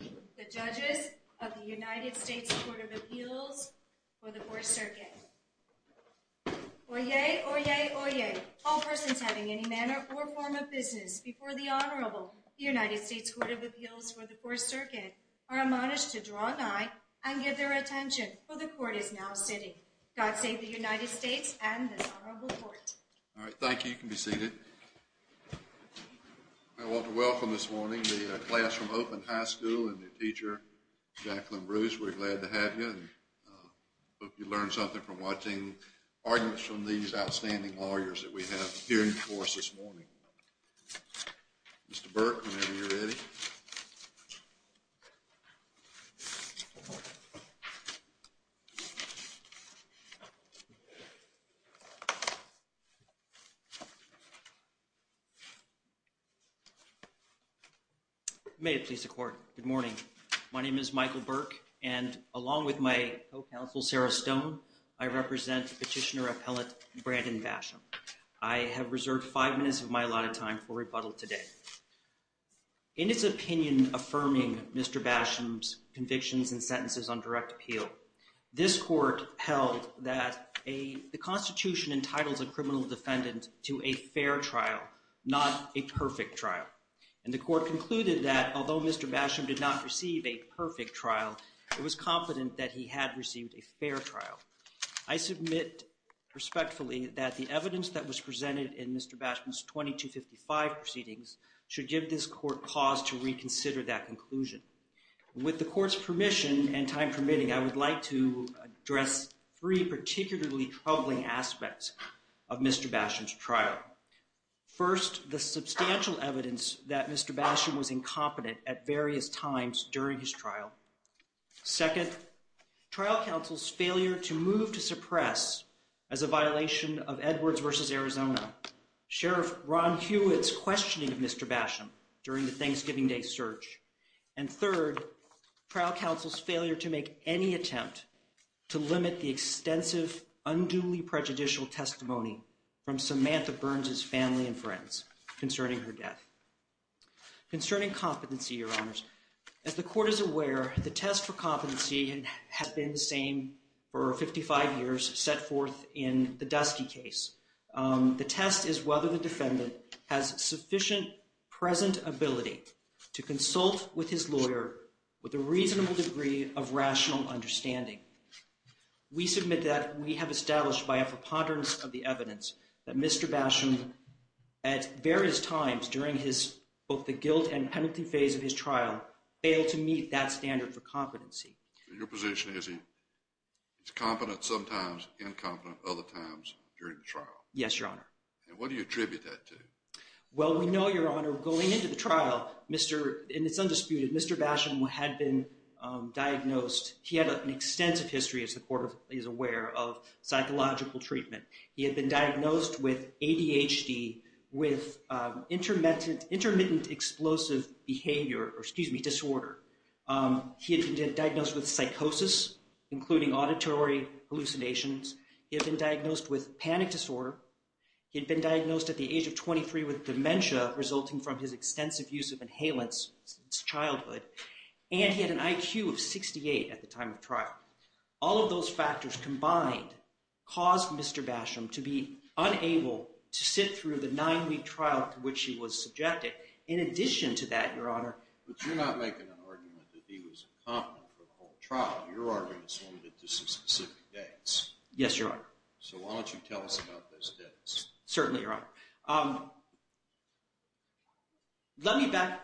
The Judges of the United States Court of Appeals for the 4th Circuit Oyez! Oyez! Oyez! All persons having any manner or form of business before the Honorable United States Court of Appeals for the 4th Circuit are admonished to draw nigh and give their attention for the Court is now sitting. God save the United States and this Honorable Court. Alright, thank you. You can be seated. I want to welcome this morning the Classroom Open High School and the teacher, Jacqueline Bruce. We're glad to have you and hope you learned something from watching arguments from these outstanding lawyers that we have here in the course this morning. Mr. Burke, whenever you're ready. May it please the Court. Good morning. My name is Michael Burke and along with my co-counsel Sarah Stone, I represent Petitioner Appellate Brandon Basham. I have reserved five minutes of my allotted time for rebuttal today. In its opinion affirming Mr. Basham's convictions and sentences on direct appeal, this Court held that the Constitution entitles a criminal defendant to a fair trial, not a perfect trial. And the Court concluded that although Mr. Basham did not receive a perfect trial, it was confident that he had received a fair trial. I submit respectfully that the evidence that was presented in Mr. Basham's 2255 proceedings should give this Court pause to reconsider that conclusion. With the Court's permission and time permitting, I would like to address three particularly troubling aspects of Mr. Basham's trial. First, the substantial evidence that Mr. Basham was incompetent at various times during his trial. Second, trial counsel's failure to move to suppress as a violation of Edwards v. Arizona, Sheriff Ron Hewitt's questioning of Mr. Basham during the Thanksgiving Day search. And third, trial counsel's failure to make any attempt to limit the extensive unduly prejudicial testimony from Samantha Burns' family and friends concerning her death. Concerning competency, Your Honors, as the Court is aware, the test for competency has been the same for 55 years set forth in the Dusky case. The test is whether the defendant has sufficient present ability to consult with his lawyer with a reasonable degree of rational understanding. We submit that we have established by a preponderance of the evidence that Mr. Basham, at various times during both the guilt and penalty phase of his trial, failed to meet that standard for competency. So your position is he's competent sometimes, incompetent other times during the trial? Yes, Your Honor. And what do you attribute that to? Well, we know, Your Honor, going into the trial, Mr., and it's undisputed, Mr. Basham had been diagnosed, he had an extensive history, as the Court is aware, of psychological treatment. He had been diagnosed with ADHD, with intermittent explosive behavior, or excuse me, disorder. He had been diagnosed with psychosis, including auditory hallucinations. He had been diagnosed with panic disorder. He had been diagnosed at the age of 23 with dementia, resulting from his extensive use of inhalants since childhood. And he had an IQ of 68 at the time of trial. All of those factors combined caused Mr. Basham to be unable to sit through the nine-week trial to which he was subjected. In addition to that, Your Honor... But you're not making an argument that he was incompetent for the whole trial. Your argument is limited to some specific dates. Yes, Your Honor. So why don't you tell us about those dates? Certainly, Your Honor. Let me back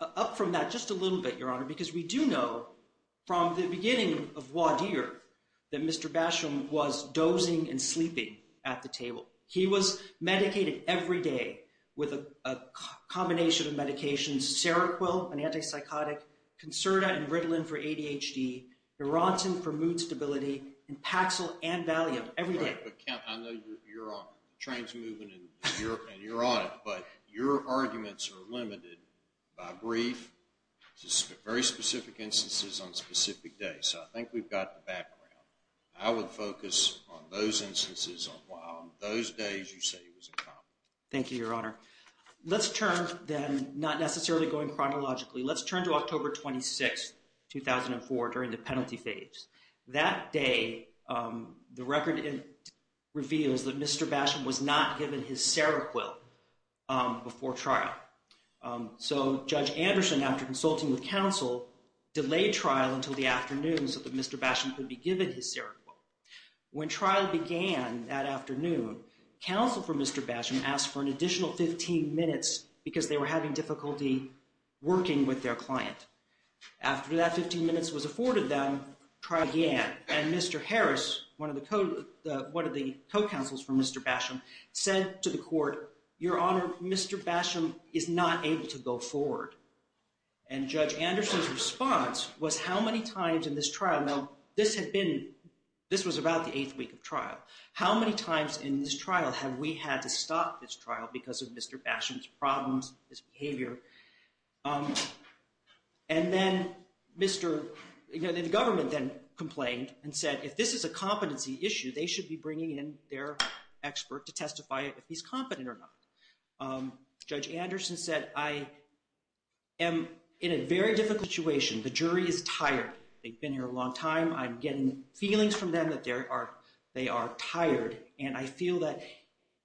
up from that just a little bit, Your Honor, because we do know from the beginning of Wadir that Mr. Basham was dozing and sleeping at the table. He was medicated every day with a combination of medications, Seroquel, an antipsychotic, Concerta and Ritalin for ADHD, Neurontin for mood stability, and Paxil and Valium every day. But, Kent, I know you're on it. The train's moving, and you're on it. But your arguments are limited by brief, very specific instances on specific days. So I think we've got the background. I would focus on those instances on why on those days you say he was incompetent. Thank you, Your Honor. Let's turn, then, not necessarily going chronologically, let's turn to October 26, 2004, during the penalty phase. That day, the record reveals that Mr. Basham was not given his Seroquel before trial. So Judge Anderson, after consulting with counsel, delayed trial until the afternoon so that Mr. Basham could be given his Seroquel. When trial began that afternoon, counsel for Mr. Basham asked for an additional 15 minutes because they were having difficulty working with their client. After that 15 minutes was afforded them, trial began, and Mr. Harris, one of the co-counsels for Mr. Basham, said to the court, Your Honor, Mr. Basham is not able to go forward. And Judge Anderson's response was, how many times in this trial? Now, this was about the eighth week of trial. How many times in this trial have we had to stop this trial because of Mr. Basham's problems, his behavior? And then the government then complained and said, if this is a competency issue, they should be bringing in their expert to testify if he's competent or not. Judge Anderson said, I am in a very difficult situation. The jury is tired. They've been here a long time. I'm getting feelings from them that they are tired. And I feel that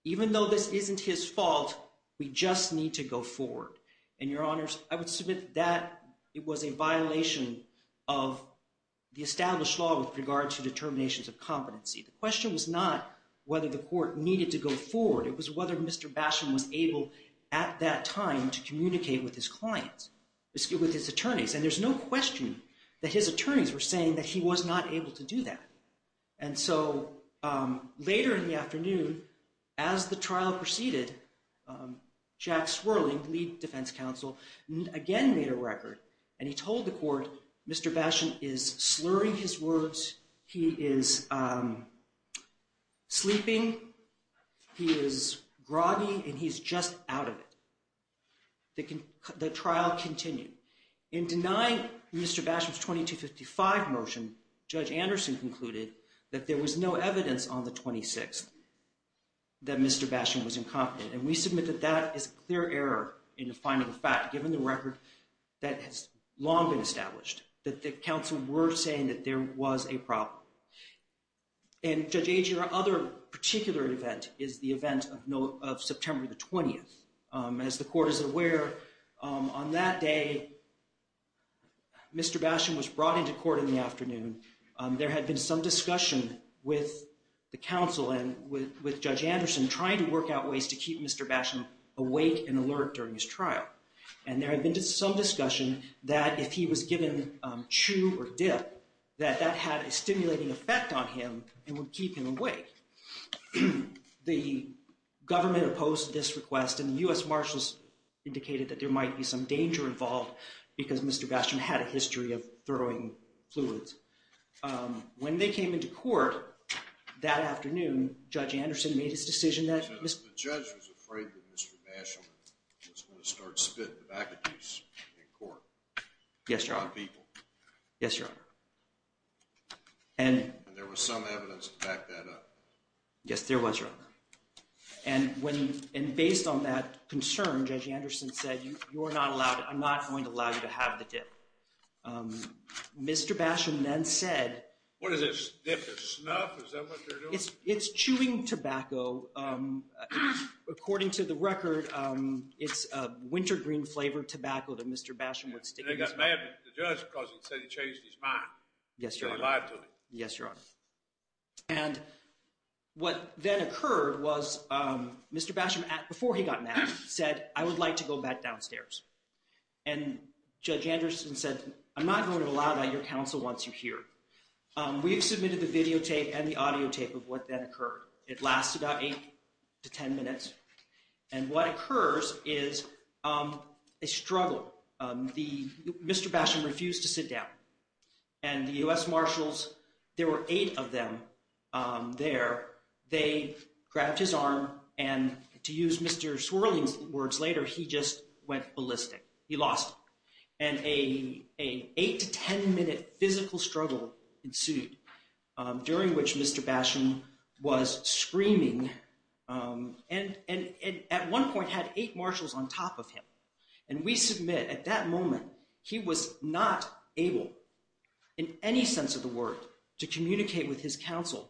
even though this isn't his fault, we just need to go forward. And, Your Honors, I would submit that it was a violation of the established law with regard to determinations of competency. The question was not whether the court needed to go forward. It was whether Mr. Basham was able at that time to communicate with his clients, with his attorneys. And there's no question that his attorneys were saying that he was not able to do that. And so later in the afternoon, as the trial proceeded, Jack Swerling, lead defense counsel, again made a record. And he told the court, Mr. Basham is slurring his words, he is sleeping, he is groggy, and he's just out of it. The trial continued. In denying Mr. Basham's 2255 motion, Judge Anderson concluded that there was no evidence on the 26th that Mr. Basham was incompetent. And we submit that that is a clear error in the finding of fact, given the record that has long been established, that the counsel were saying that there was a problem. And, Judge Ager, another particular event is the event of September the 20th. As the court is aware, on that day, Mr. Basham was brought into court in the afternoon. There had been some discussion with the counsel and with Judge Anderson trying to work out ways to keep Mr. Basham awake and alert during his trial. And there had been some discussion that if he was given chew or dip, that that had a stimulating effect on him and would keep him awake. The government opposed this request, and the U.S. Marshals indicated that there might be some danger involved because Mr. Basham had a history of throwing fluids. When they came into court that afternoon, Judge Anderson made his decision that… The judge was afraid that Mr. Basham was going to start spit tobacco use in court. Yes, Your Honor. On people. Yes, Your Honor. And… And there was some evidence to back that up. Yes, there was, Your Honor. And based on that concern, Judge Anderson said, you're not allowed, I'm not going to allow you to have the dip. Mr. Basham then said… What is this, dip of snuff? Is that what they're doing? It's chewing tobacco. According to the record, it's a wintergreen-flavored tobacco that Mr. Basham would stick in his mouth. The judge said he changed his mind. Yes, Your Honor. He lied to me. Yes, Your Honor. And what then occurred was Mr. Basham, before he got mad, said, I would like to go back downstairs. And Judge Anderson said, I'm not going to allow that. Your counsel wants you here. We've submitted the videotape and the audiotape of what then occurred. It lasted about eight to ten minutes. And what occurs is a struggle. Mr. Basham refused to sit down. And the U.S. Marshals, there were eight of them there. They grabbed his arm and, to use Mr. Swirling's words later, he just went ballistic. He lost. And an eight to ten minute physical struggle ensued, during which Mr. Basham was screaming. And at one point had eight marshals on top of him. And we submit, at that moment, he was not able, in any sense of the word, to communicate with his counsel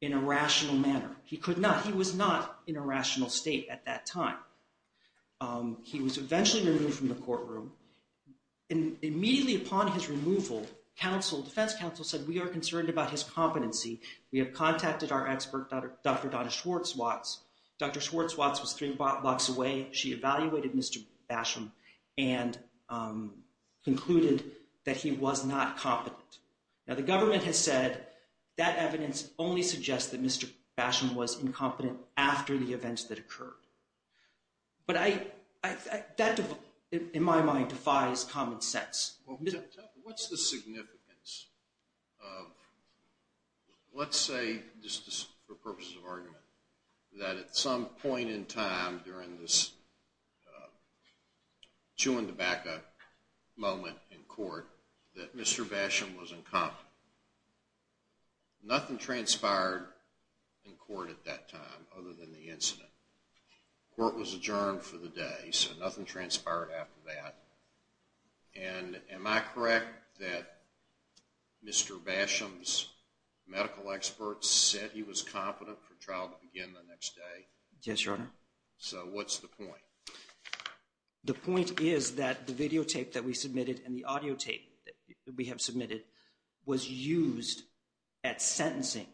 in a rational manner. He could not. He was not in a rational state at that time. He was eventually removed from the courtroom. And immediately upon his removal, defense counsel said, we are concerned about his competency. We have contacted our expert, Dr. Donna Schwartzwatz. Dr. Schwartzwatz was three blocks away. She evaluated Mr. Basham and concluded that he was not competent. Now, the government has said that evidence only suggests that Mr. Basham was incompetent after the events that occurred. But that, in my mind, defies common sense. What's the significance of, let's say, just for purposes of argument, that at some point in time during this chewing tobacco moment in court, that Mr. Basham was incompetent. Nothing transpired in court at that time, other than the incident. Court was adjourned for the day, so nothing transpired after that. And am I correct that Mr. Basham's medical experts said he was competent for trial to begin the next day? Yes, Your Honor. So what's the point? The point is that the videotape that we submitted and the audio tape that we have submitted was used at sentencing.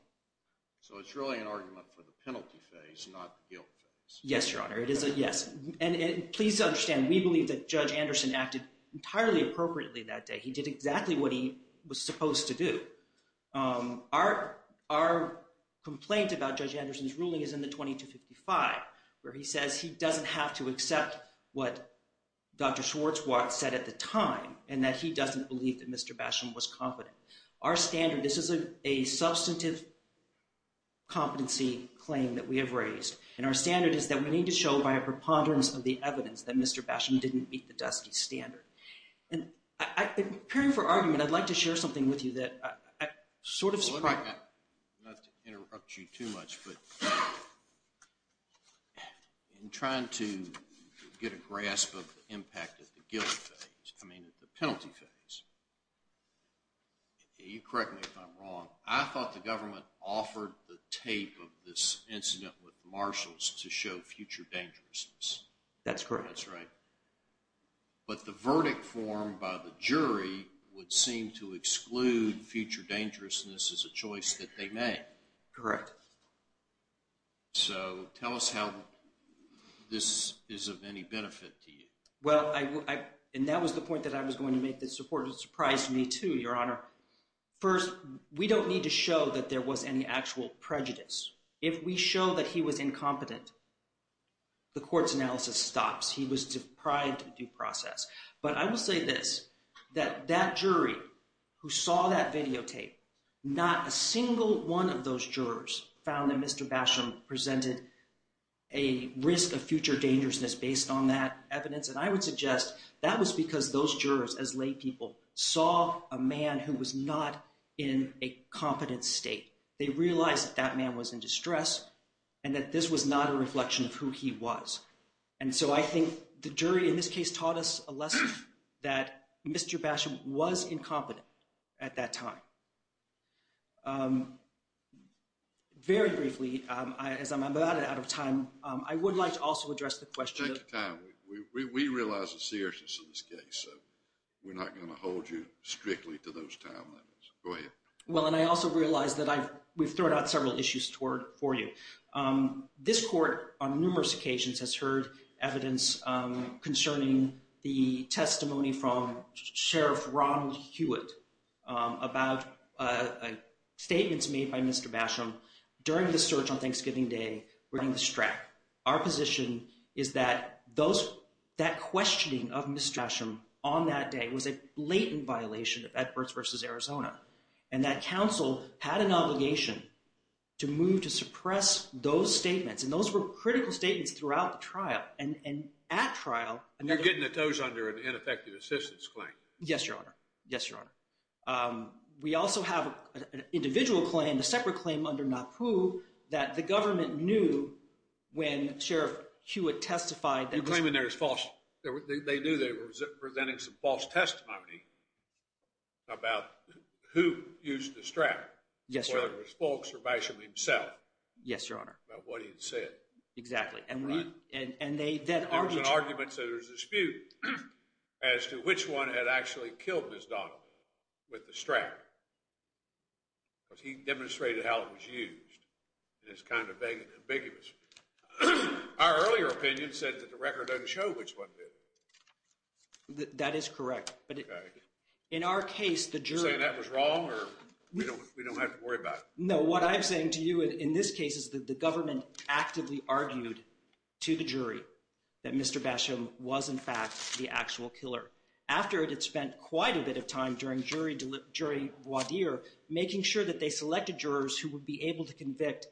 So it's really an argument for the penalty phase, not the guilt phase. Yes, Your Honor. It is a yes. And please understand, we believe that Judge Anderson acted entirely appropriately that day. He did exactly what he was supposed to do. Our complaint about Judge Anderson's ruling is in the 2255, where he says he doesn't have to accept what Dr. Schwartzwald said at the time, and that he doesn't believe that Mr. Basham was competent. Our standard, this is a substantive competency claim that we have raised. And our standard is that we need to show by a preponderance of the evidence that Mr. Basham didn't meet the DUSCIE standard. And in preparing for argument, I'd like to share something with you that I sort of support. Not to interrupt you too much, but in trying to get a grasp of the impact of the guilt phase, I mean the penalty phase, You correct me if I'm wrong, I thought the government offered the tape of this incident with the marshals to show future dangerousness. That's correct. That's right. But the verdict formed by the jury would seem to exclude future dangerousness as a choice that they made. Correct. So tell us how this is of any benefit to you. Well, and that was the point that I was going to make that surprised me too, Your Honor. First, we don't need to show that there was any actual prejudice. If we show that he was incompetent, the court's analysis stops. He was deprived of due process. But I will say this, that that jury who saw that videotape, not a single one of those jurors found that Mr. Basham presented a risk of future dangerousness based on that evidence. And I would suggest that was because those jurors, as laypeople, saw a man who was not in a competent state. They realized that that man was in distress and that this was not a reflection of who he was. And so I think the jury in this case taught us a lesson that Mr. Basham was incompetent at that time. Very briefly, as I'm about out of time, I would like to also address the question. Take your time. We realize the seriousness of this case, so we're not going to hold you strictly to those time limits. Go ahead. Well, and I also realize that we've thrown out several issues for you. This court, on numerous occasions, has heard evidence concerning the testimony from Sheriff Ronald Hewitt about statements made by Mr. Basham during the search on Thanksgiving Day regarding the strap. Our position is that that questioning of Mr. Basham on that day was a blatant violation of Edwards v. Arizona. And that counsel had an obligation to move to suppress those statements, and those were critical statements throughout the trial. And at trial— And you're getting at those under an ineffective assistance claim. Yes, Your Honor. Yes, Your Honor. We also have an individual claim, a separate claim under NAPU, that the government knew when Sheriff Hewitt testified that— Yes, Your Honor. Yes, Your Honor. —about what he had said. Exactly. And we— Right? And they then argued— There was an argument, so there was a dispute as to which one had actually killed Ms. Donovan with the strap, because he demonstrated how it was used, and it's kind of ambiguous. Our earlier opinion said that the record doesn't show which one did. That is correct. Okay. In our case, the jury— We don't have to worry about it. No, what I'm saying to you in this case is that the government actively argued to the jury that Mr. Basham was, in fact, the actual killer. After it had spent quite a bit of time during jury voir dire making sure that they selected jurors who would be able to convict—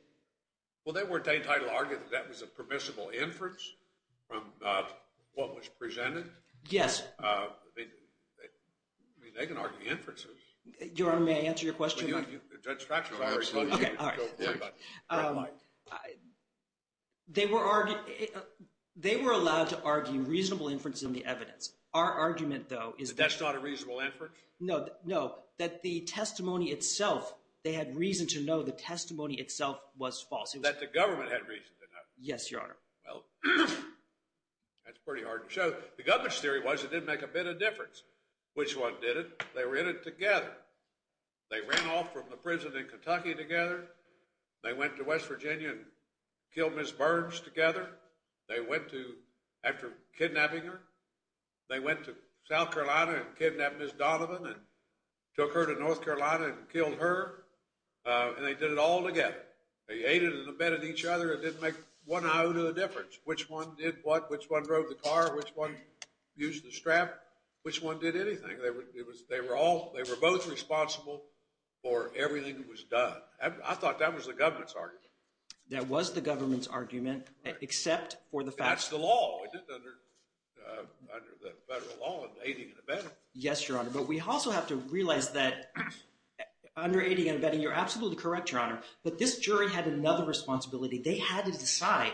Well, they weren't entitled to argue that that was a permissible inference from what was presented? Yes. I mean, they can argue inferences. Your Honor, may I answer your question? Well, you have your judge's fractures. Okay, all right. They were allowed to argue reasonable inference in the evidence. Our argument, though, is that— That that's not a reasonable inference? No, no. That the testimony itself, they had reason to know the testimony itself was false. That the government had reason to know? Yes, Your Honor. Well, that's pretty hard to show. The government's theory was it didn't make a bit of difference which one did it. They were in it together. They ran off from the prison in Kentucky together. They went to West Virginia and killed Ms. Burns together. They went to—after kidnapping her. They went to South Carolina and kidnapped Ms. Donovan and took her to North Carolina and killed her. And they did it all together. They aided and abetted each other. It didn't make one iota of difference which one did what, which one drove the car, which one used the strap, which one did anything. They were both responsible for everything that was done. I thought that was the government's argument. That was the government's argument except for the fact— That's the law. Under the federal law, aiding and abetting. Yes, Your Honor, but we also have to realize that under aiding and abetting, you're absolutely correct, Your Honor, but this jury had another responsibility. They had to decide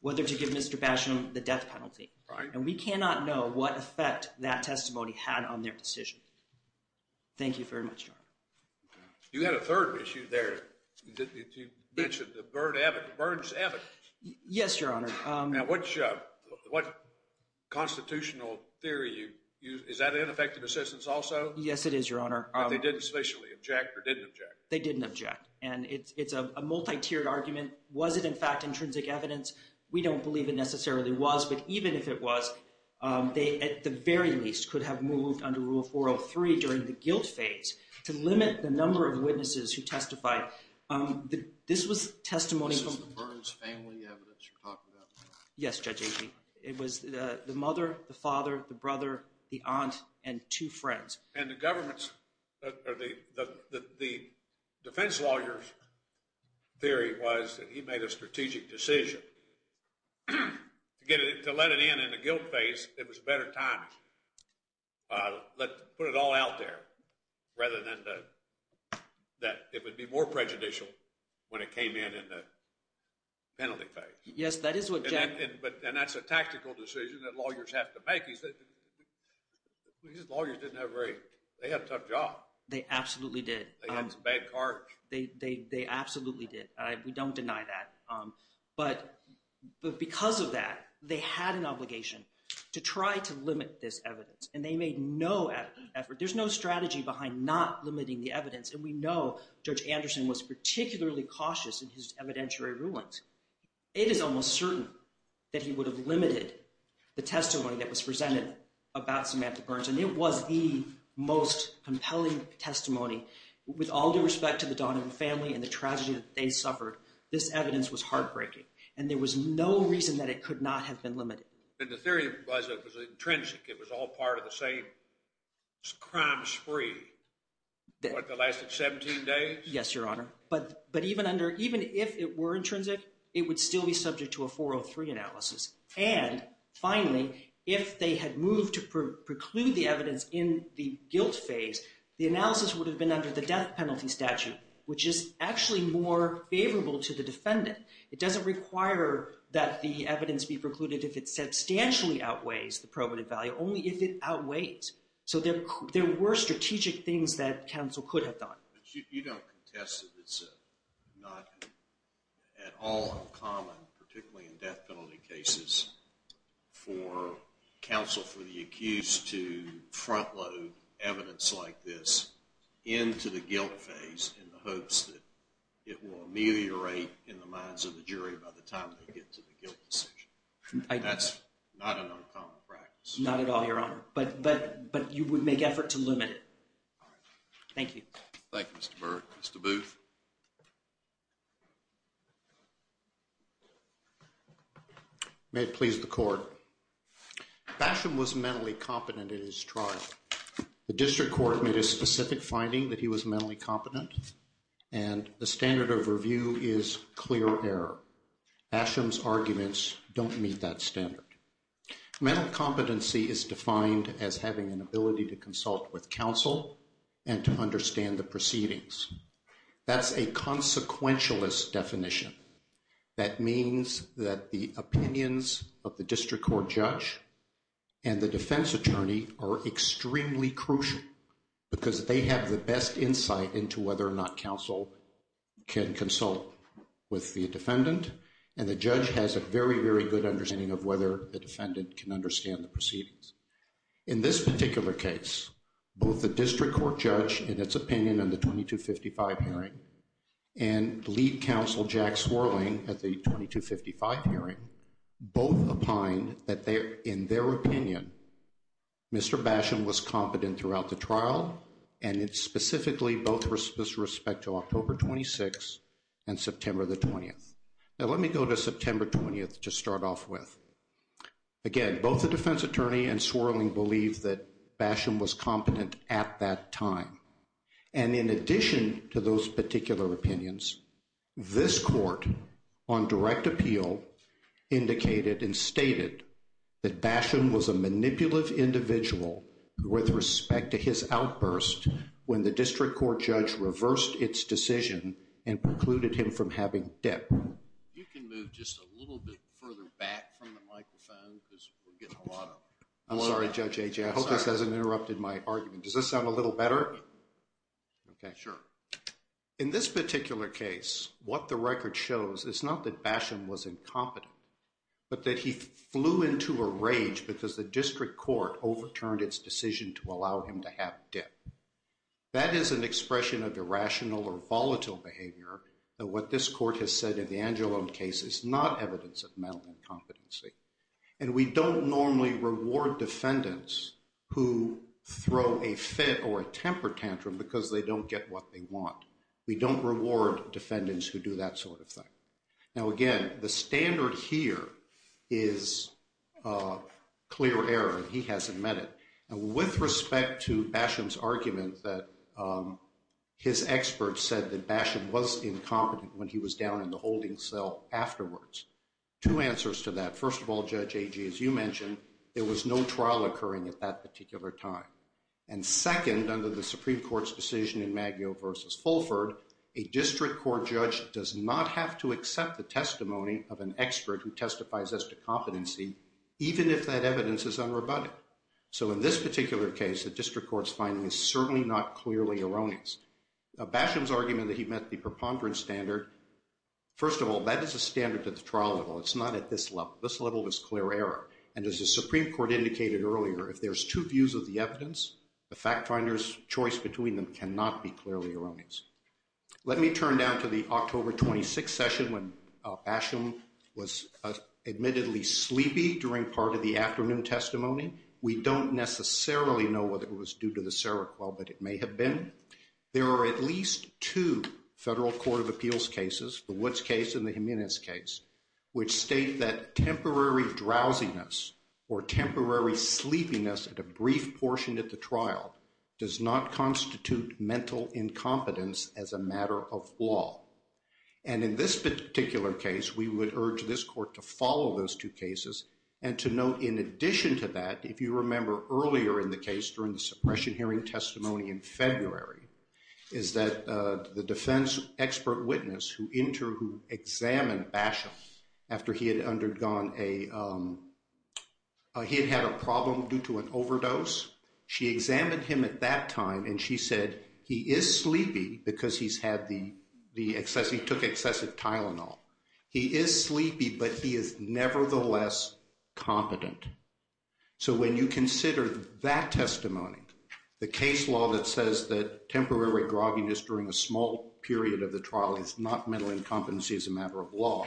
whether to give Mr. Basham the death penalty. Right. And we cannot know what effect that testimony had on their decision. Thank you very much, Your Honor. You had a third issue there. You mentioned the Burns evidence. Yes, Your Honor. Now, what constitutional theory—is that ineffective assistance also? Yes, it is, Your Honor. But they didn't sufficiently object or didn't object? They didn't object. And it's a multi-tiered argument. Was it, in fact, intrinsic evidence? We don't believe it necessarily was. But even if it was, they, at the very least, could have moved under Rule 403 during the guilt phase to limit the number of witnesses who testified. This was testimony from— This is the Burns family evidence you're talking about? Yes, Judge Agee. It was the mother, the father, the brother, the aunt, and two friends. And the defense lawyer's theory was that he made a strategic decision. To let it in in the guilt phase, it was a better time to put it all out there rather than that it would be more prejudicial when it came in in the penalty phase. Yes, that is what Judge— And that's a tactical decision that lawyers have to make. These lawyers didn't have very—they had a tough job. They absolutely did. They had some bad cards. They absolutely did. We don't deny that. But because of that, they had an obligation to try to limit this evidence. And they made no effort. There's no strategy behind not limiting the evidence. And we know Judge Anderson was particularly cautious in his evidentiary rulings. It is almost certain that he would have limited the testimony that was presented about Samantha Burns. And it was the most compelling testimony. With all due respect to the Donovan family and the tragedy that they suffered, this evidence was heartbreaking. And there was no reason that it could not have been limited. But the theory was that it was intrinsic. It was all part of the same crime spree. What, that lasted 17 days? Yes, Your Honor. But even if it were intrinsic, it would still be subject to a 403 analysis. And, finally, if they had moved to preclude the evidence in the guilt phase, the analysis would have been under the death penalty statute, which is actually more favorable to the defendant. It doesn't require that the evidence be precluded if it substantially outweighs the probative value, only if it outweighs. So there were strategic things that counsel could have done. But you don't contest that it's not at all uncommon, particularly in death penalty cases, for counsel for the accused to front load evidence like this into the guilt phase in the hopes that it will ameliorate in the minds of the jury by the time they get to the guilt decision. That's not an uncommon practice. Not at all, Your Honor. But you would make effort to limit it. Thank you. Thank you, Mr. Burke. Mr. Booth. May it please the Court. Basham was mentally competent in his trial. The district court made a specific finding that he was mentally competent, and the standard of review is clear error. Basham's arguments don't meet that standard. Mental competency is defined as having an ability to consult with counsel and to understand the proceedings. That's a consequentialist definition. That means that the opinions of the district court judge and the defense attorney are extremely crucial because they have the best insight into whether or not counsel can consult with the defendant, and the judge has a very, very good understanding of whether the defendant can understand the proceedings. In this particular case, both the district court judge in its opinion in the 2255 hearing and lead counsel Jack Swirling at the 2255 hearing both opined that in their opinion, Mr. Basham was competent throughout the trial, and it's specifically both with respect to October 26th and September the 20th. Now, let me go to September 20th to start off with. Again, both the defense attorney and Swirling believed that Basham was competent at that time, and in addition to those particular opinions, this court on direct appeal indicated and stated that Basham was a manipulative individual with respect to his outburst when the district court judge reversed its decision and precluded him from having debt. You can move just a little bit further back from the microphone because we're getting a lot of… I'm sorry, Judge Ajay, I hope this hasn't interrupted my argument. Does this sound a little better? Okay. Sure. In this particular case, what the record shows is not that Basham was incompetent, but that he flew into a rage because the district court overturned its decision to allow him to have debt. That is an expression of irrational or volatile behavior. What this court has said in the Angelo case is not evidence of mental incompetency, and we don't normally reward defendants who throw a fit or a temper tantrum because they don't get what they want. We don't reward defendants who do that sort of thing. Now, again, the standard here is clear error. He hasn't met it. And with respect to Basham's argument that his expert said that Basham was incompetent when he was down in the holding cell afterwards, two answers to that. First of all, Judge Ajay, as you mentioned, there was no trial occurring at that particular time. And second, under the Supreme Court's decision in Maggio v. Fulford, a district court judge does not have to accept the testimony of an expert who testifies as to competency even if that evidence is unrebutted. So in this particular case, the district court's finding is certainly not clearly erroneous. Basham's argument that he met the preponderance standard, first of all, that is a standard at the trial level. It's not at this level. This level is clear error. And as the Supreme Court indicated earlier, if there's two views of the evidence, the fact finder's choice between them cannot be clearly erroneous. Let me turn now to the October 26th session when Basham was admittedly sleepy during part of the afternoon testimony. We don't necessarily know whether it was due to the Seroquel, but it may have been. There are at least two federal court of appeals cases, the Woods case and the Jimenez case, which state that temporary drowsiness or temporary sleepiness at a brief portion at the trial does not constitute mental incompetence as a matter of law. And in this particular case, we would urge this court to follow those two cases and to note in addition to that, if you remember earlier in the case during the suppression hearing testimony in February, is that the defense expert witness who examined Basham after he had had a problem due to an overdose, she examined him at that time and she said he is sleepy because he took excessive Tylenol. He is sleepy, but he is nevertheless competent. So when you consider that testimony, the case law that says that temporary grogginess during a small period of the trial is not mental incompetence as a matter of law,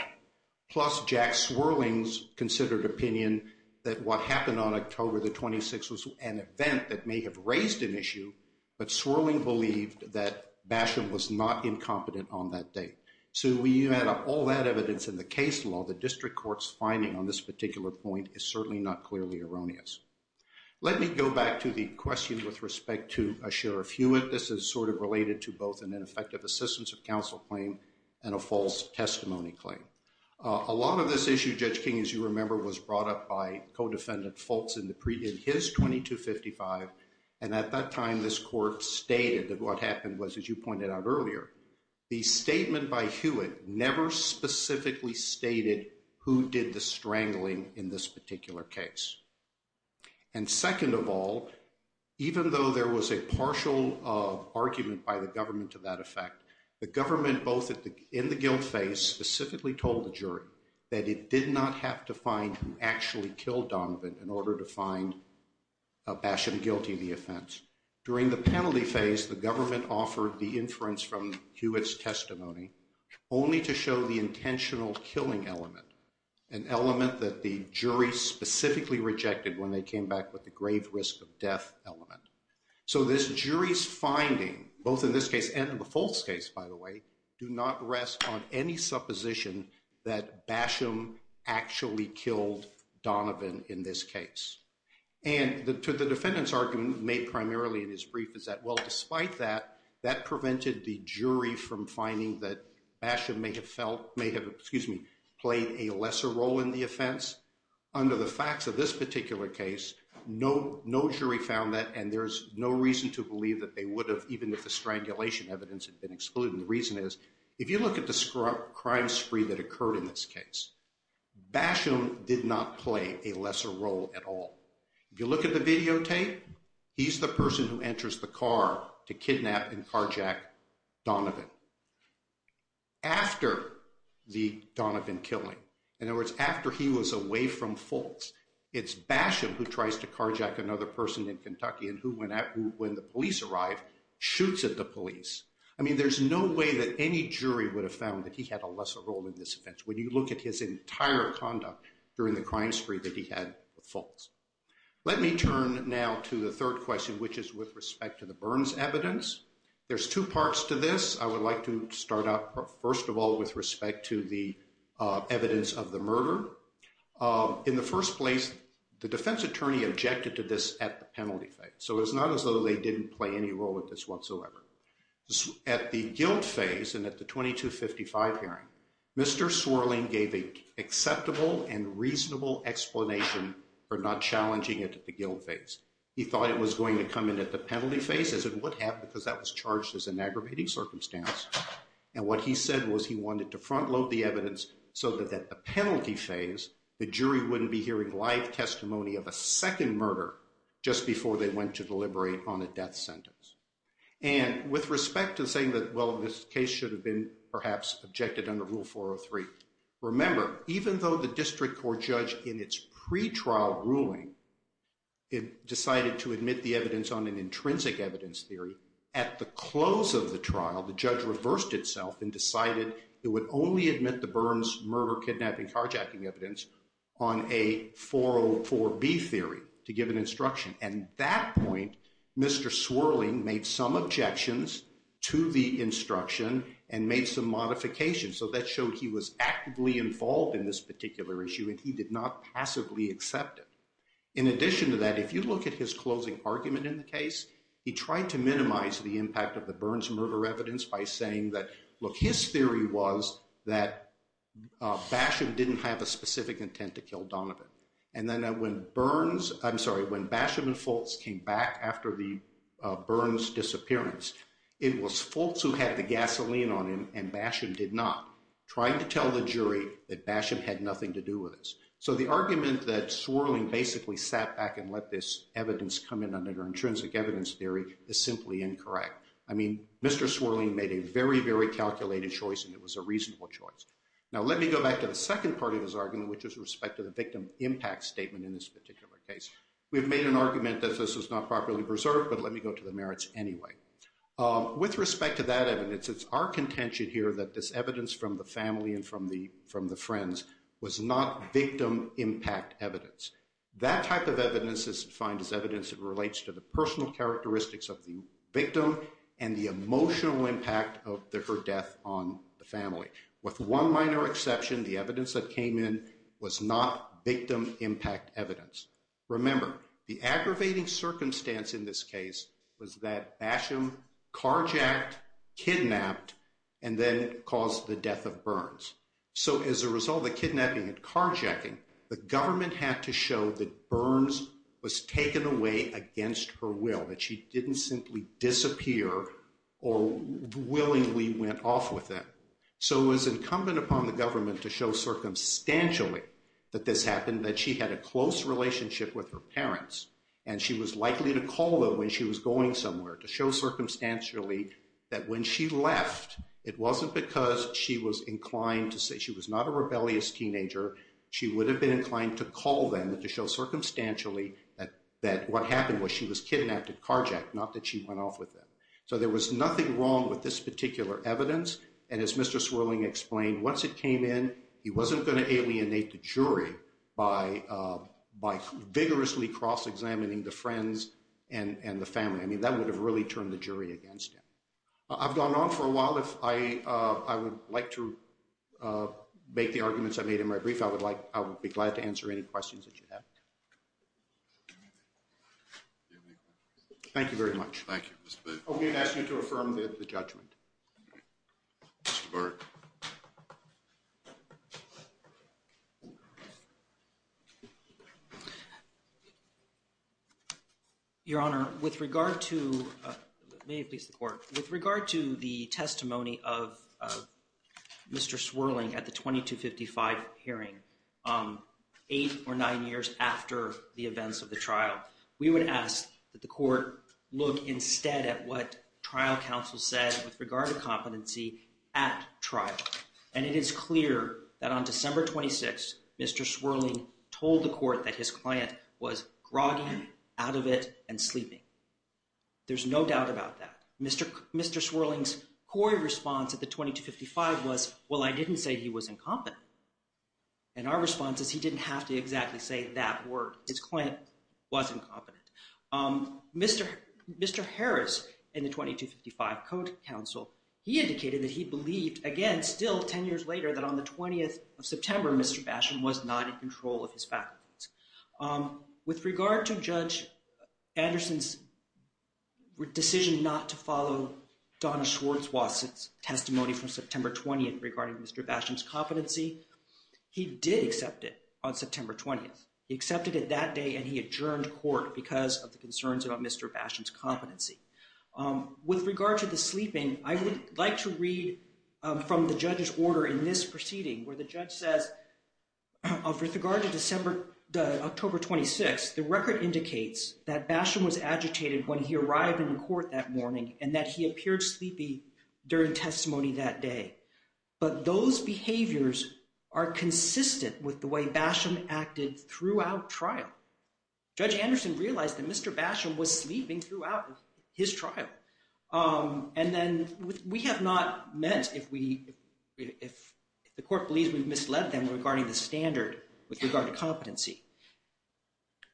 plus Jack Swerling's considered opinion that what happened on October the 26th was an event that may have raised an issue, but Swerling believed that Basham was not incompetent on that day. So when you add up all that evidence in the case law, the district court's finding on this particular point is certainly not clearly erroneous. Let me go back to the question with respect to Sheriff Hewitt. This is sort of related to both an ineffective assistance of counsel claim and a false testimony claim. A lot of this issue, Judge King, as you remember, was brought up by co-defendant Fultz in his 2255, and at that time this court stated that what happened was, as you pointed out earlier, the statement by Hewitt never specifically stated who did the strangling in this particular case. And second of all, even though there was a partial argument by the government to that effect, the government, both in the guilt phase, specifically told the jury that it did not have to find who actually killed Donovan in order to find Basham guilty of the offense. During the penalty phase, the government offered the inference from Hewitt's testimony only to show the intentional killing element, an element that the jury specifically rejected when they came back with the grave risk of death element. So this jury's finding, both in this case and in the Fultz case, by the way, do not rest on any supposition that Basham actually killed Donovan in this case. And the defendant's argument made primarily in his brief is that, well, despite that, that prevented the jury from finding that Basham may have played a lesser role in the offense. Under the facts of this particular case, no jury found that, and there's no reason to believe that they would have, even if the strangulation evidence had been excluded. And the reason is, if you look at the crime spree that occurred in this case, Basham did not play a lesser role at all. If you look at the videotape, he's the person who enters the car to kidnap and carjack Donovan. After the Donovan killing, in other words, after he was away from Fultz, it's Basham who tries to carjack another person in Kentucky and who, when the police arrive, shoots at the police. I mean, there's no way that any jury would have found that he had a lesser role in this offense. When you look at his entire conduct during the crime spree that he had with Fultz. Let me turn now to the third question, which is with respect to the Burns evidence. There's two parts to this. I would like to start out, first of all, with respect to the evidence of the murder. In the first place, the defense attorney objected to this at the penalty phase, so it's not as though they didn't play any role with this whatsoever. At the guilt phase and at the 2255 hearing, Mr. Swirling gave an acceptable and reasonable explanation for not challenging it at the guilt phase. He thought it was going to come in at the penalty phase, as it would have, because that was charged as an aggravating circumstance. And what he said was he wanted to front load the evidence so that at the penalty phase, the jury wouldn't be hearing live testimony of a second murder just before they went to deliberate on a death sentence. And with respect to saying that, well, this case should have been perhaps objected under Rule 403, remember, even though the district court judge in its pretrial ruling decided to admit the evidence on an intrinsic evidence theory, at the close of the trial, the judge reversed itself and decided it would only admit the Burns murder, kidnapping, carjacking evidence on a 404B theory to give an instruction. And at that point, Mr. Swirling made some objections to the instruction and made some modifications. So that showed he was actively involved in this particular issue and he did not passively accept it. In addition to that, if you look at his closing argument in the case, he tried to minimize the impact of the Burns murder evidence by saying that, look, his theory was that Basham didn't have a specific intent to kill Donovan. And then when Burns, I'm sorry, when Basham and Fultz came back after the Burns disappearance, it was Fultz who had the gasoline on him and Basham did not, trying to tell the jury that Basham had nothing to do with this. So the argument that Swirling basically sat back and let this evidence come in under intrinsic evidence theory is simply incorrect. I mean, Mr. Swirling made a very, very calculated choice and it was a reasonable choice. Now, let me go back to the second part of his argument, which is respect to the victim impact statement in this particular case. We've made an argument that this was not properly preserved, but let me go to the merits anyway. With respect to that evidence, it's our contention here that this evidence from the family and from the friends was not victim impact evidence. That type of evidence is defined as evidence that relates to the personal characteristics of the victim and the emotional impact of her death on the family. With one minor exception, the evidence that came in was not victim impact evidence. Remember, the aggravating circumstance in this case was that Basham carjacked, kidnapped, and then caused the death of Burns. So as a result of the kidnapping and carjacking, the government had to show that Burns was taken away against her will, that she didn't simply disappear or willingly went off with him. So it was incumbent upon the government to show circumstantially that this happened, that she had a close relationship with her parents, and she was likely to call them when she was going somewhere to show circumstantially that when she left, it wasn't because she was inclined to say she was not a rebellious teenager. She would have been inclined to call them to show circumstantially that what happened was she was kidnapped and carjacked, not that she went off with them. So there was nothing wrong with this particular evidence, and as Mr. Swerling explained, once it came in, he wasn't going to alienate the jury by vigorously cross-examining the friends and the family. I mean, that would have really turned the jury against him. I've gone on for a while. If I would like to make the arguments I made in my brief, I would be glad to answer any questions that you have. Thank you. Thank you very much. Thank you. I'm going to ask you to affirm the judgment. Mr. Burke. Your Honor, with regard to the testimony of Mr. Swerling at the 2255 hearing, eight or nine years after the events of the trial, we would ask that the court look instead at what trial counsel said with regard to competency at trial. And it is clear that on December 26th, Mr. Swerling told the court that his client was groggy, out of it, and sleeping. There's no doubt about that. Mr. Swerling's core response at the 2255 was, well, I didn't say he was incompetent. And our response is he didn't have to exactly say that word. His client was incompetent. Mr. Harris in the 2255 court counsel, he indicated that he believed, again, still 10 years later, that on the 20th of September, Mr. Basham was not in control of his faculties. With regard to Judge Anderson's decision not to follow Donna Schwartzwass's testimony from September 20th regarding Mr. Basham's competency, he did accept it on September 20th. He accepted it that day, and he adjourned court because of the concerns about Mr. Basham's competency. With regard to the sleeping, I would like to read from the judge's order in this proceeding, where the judge says, with regard to October 26th, the record indicates that Basham was agitated when he arrived in court that morning and that he appeared sleepy during testimony that day. But those behaviors are consistent with the way Basham acted throughout trial. Judge Anderson realized that Mr. Basham was sleeping throughout his trial. And then we have not met, if the court believes we've misled them, regarding the standard with regard to competency.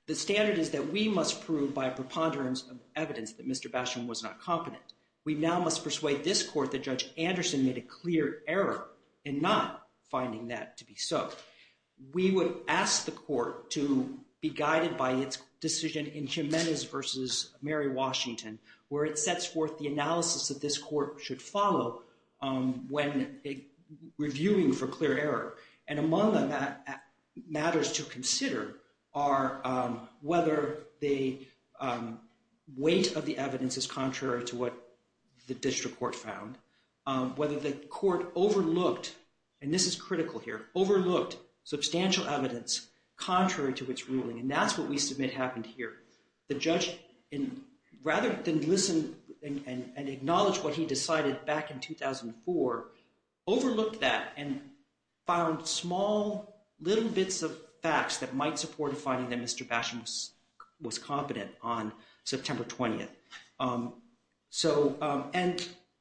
The standard is that we must prove by a preponderance of evidence that Mr. Basham was not competent. We now must persuade this court that Judge Anderson made a clear error in not finding that to be so. We would ask the court to be guided by its decision in Jimenez v. Mary Washington, where it sets forth the analysis that this court should follow when reviewing for clear error. And among the matters to consider are whether the weight of the evidence is contrary to what the district court found, whether the court overlooked, and this is critical here, overlooked substantial evidence contrary to its ruling. And that's what we submit happened here. The judge, rather than listen and acknowledge what he decided back in 2004, overlooked that and found small little bits of facts that might support finding that Mr. Basham was competent on September 20th.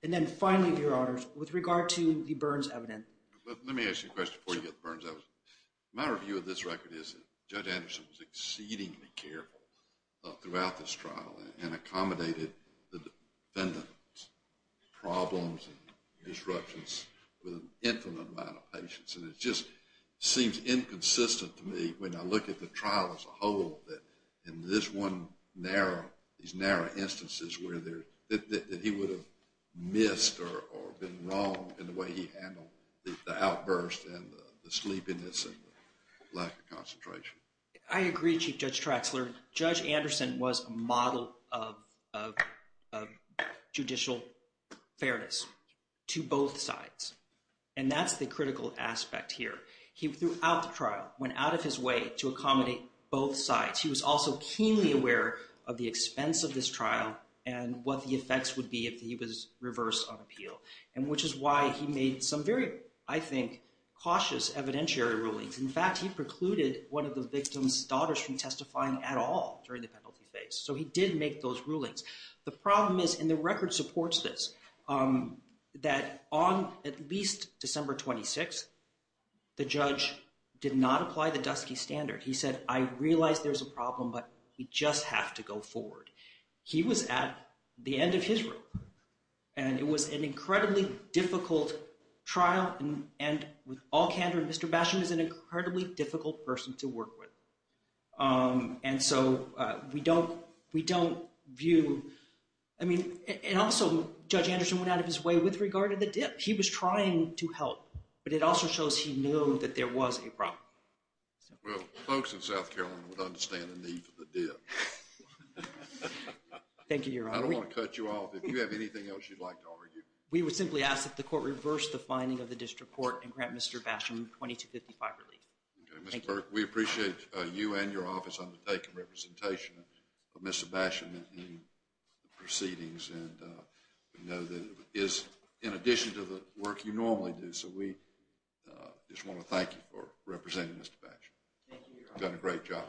And then finally, Your Honors, with regard to the Burns evidence. Let me ask you a question before you get to Burns. My review of this record is that Judge Anderson was exceedingly careful throughout this trial and accommodated the defendant's problems and disruptions with an infinite amount of patience. And it just seems inconsistent to me when I look at the trial as a whole that in this one narrow, these narrow instances where he would have missed or been wrong in the way he handled the outburst and the sleepiness and lack of concentration. I agree, Chief Judge Traxler. Judge Anderson was a model of judicial fairness to both sides. And that's the critical aspect here. He, throughout the trial, went out of his way to accommodate both sides. He was also keenly aware of the expense of this trial and what the effects would be if he was reversed on appeal, which is why he made some very, I think, cautious evidentiary rulings. In fact, he precluded one of the victims' daughters from testifying at all during the penalty phase. So he did make those rulings. The problem is, and the record supports this, that on at least December 26th, the judge did not apply the Dusky Standard. He said, I realize there's a problem, but we just have to go forward. He was at the end of his rope. And it was an incredibly difficult trial. And with all candor, Mr. Basham is an incredibly difficult person to work with. And so we don't view, I mean, and also Judge Anderson went out of his way with regard to the dip. He was trying to help, but it also shows he knew that there was a problem. Well, folks in South Carolina would understand the need for the dip. Thank you, Your Honor. I don't want to cut you off. If you have anything else you'd like to argue. We would simply ask that the court reverse the finding of the district court and grant Mr. Basham $2,255 relief. Mr. Burke, we appreciate you and your office undertaking representation of Mr. Basham in the proceedings. And we know that it is in addition to the work you normally do. So we just want to thank you for representing Mr. Basham. You've done a great job.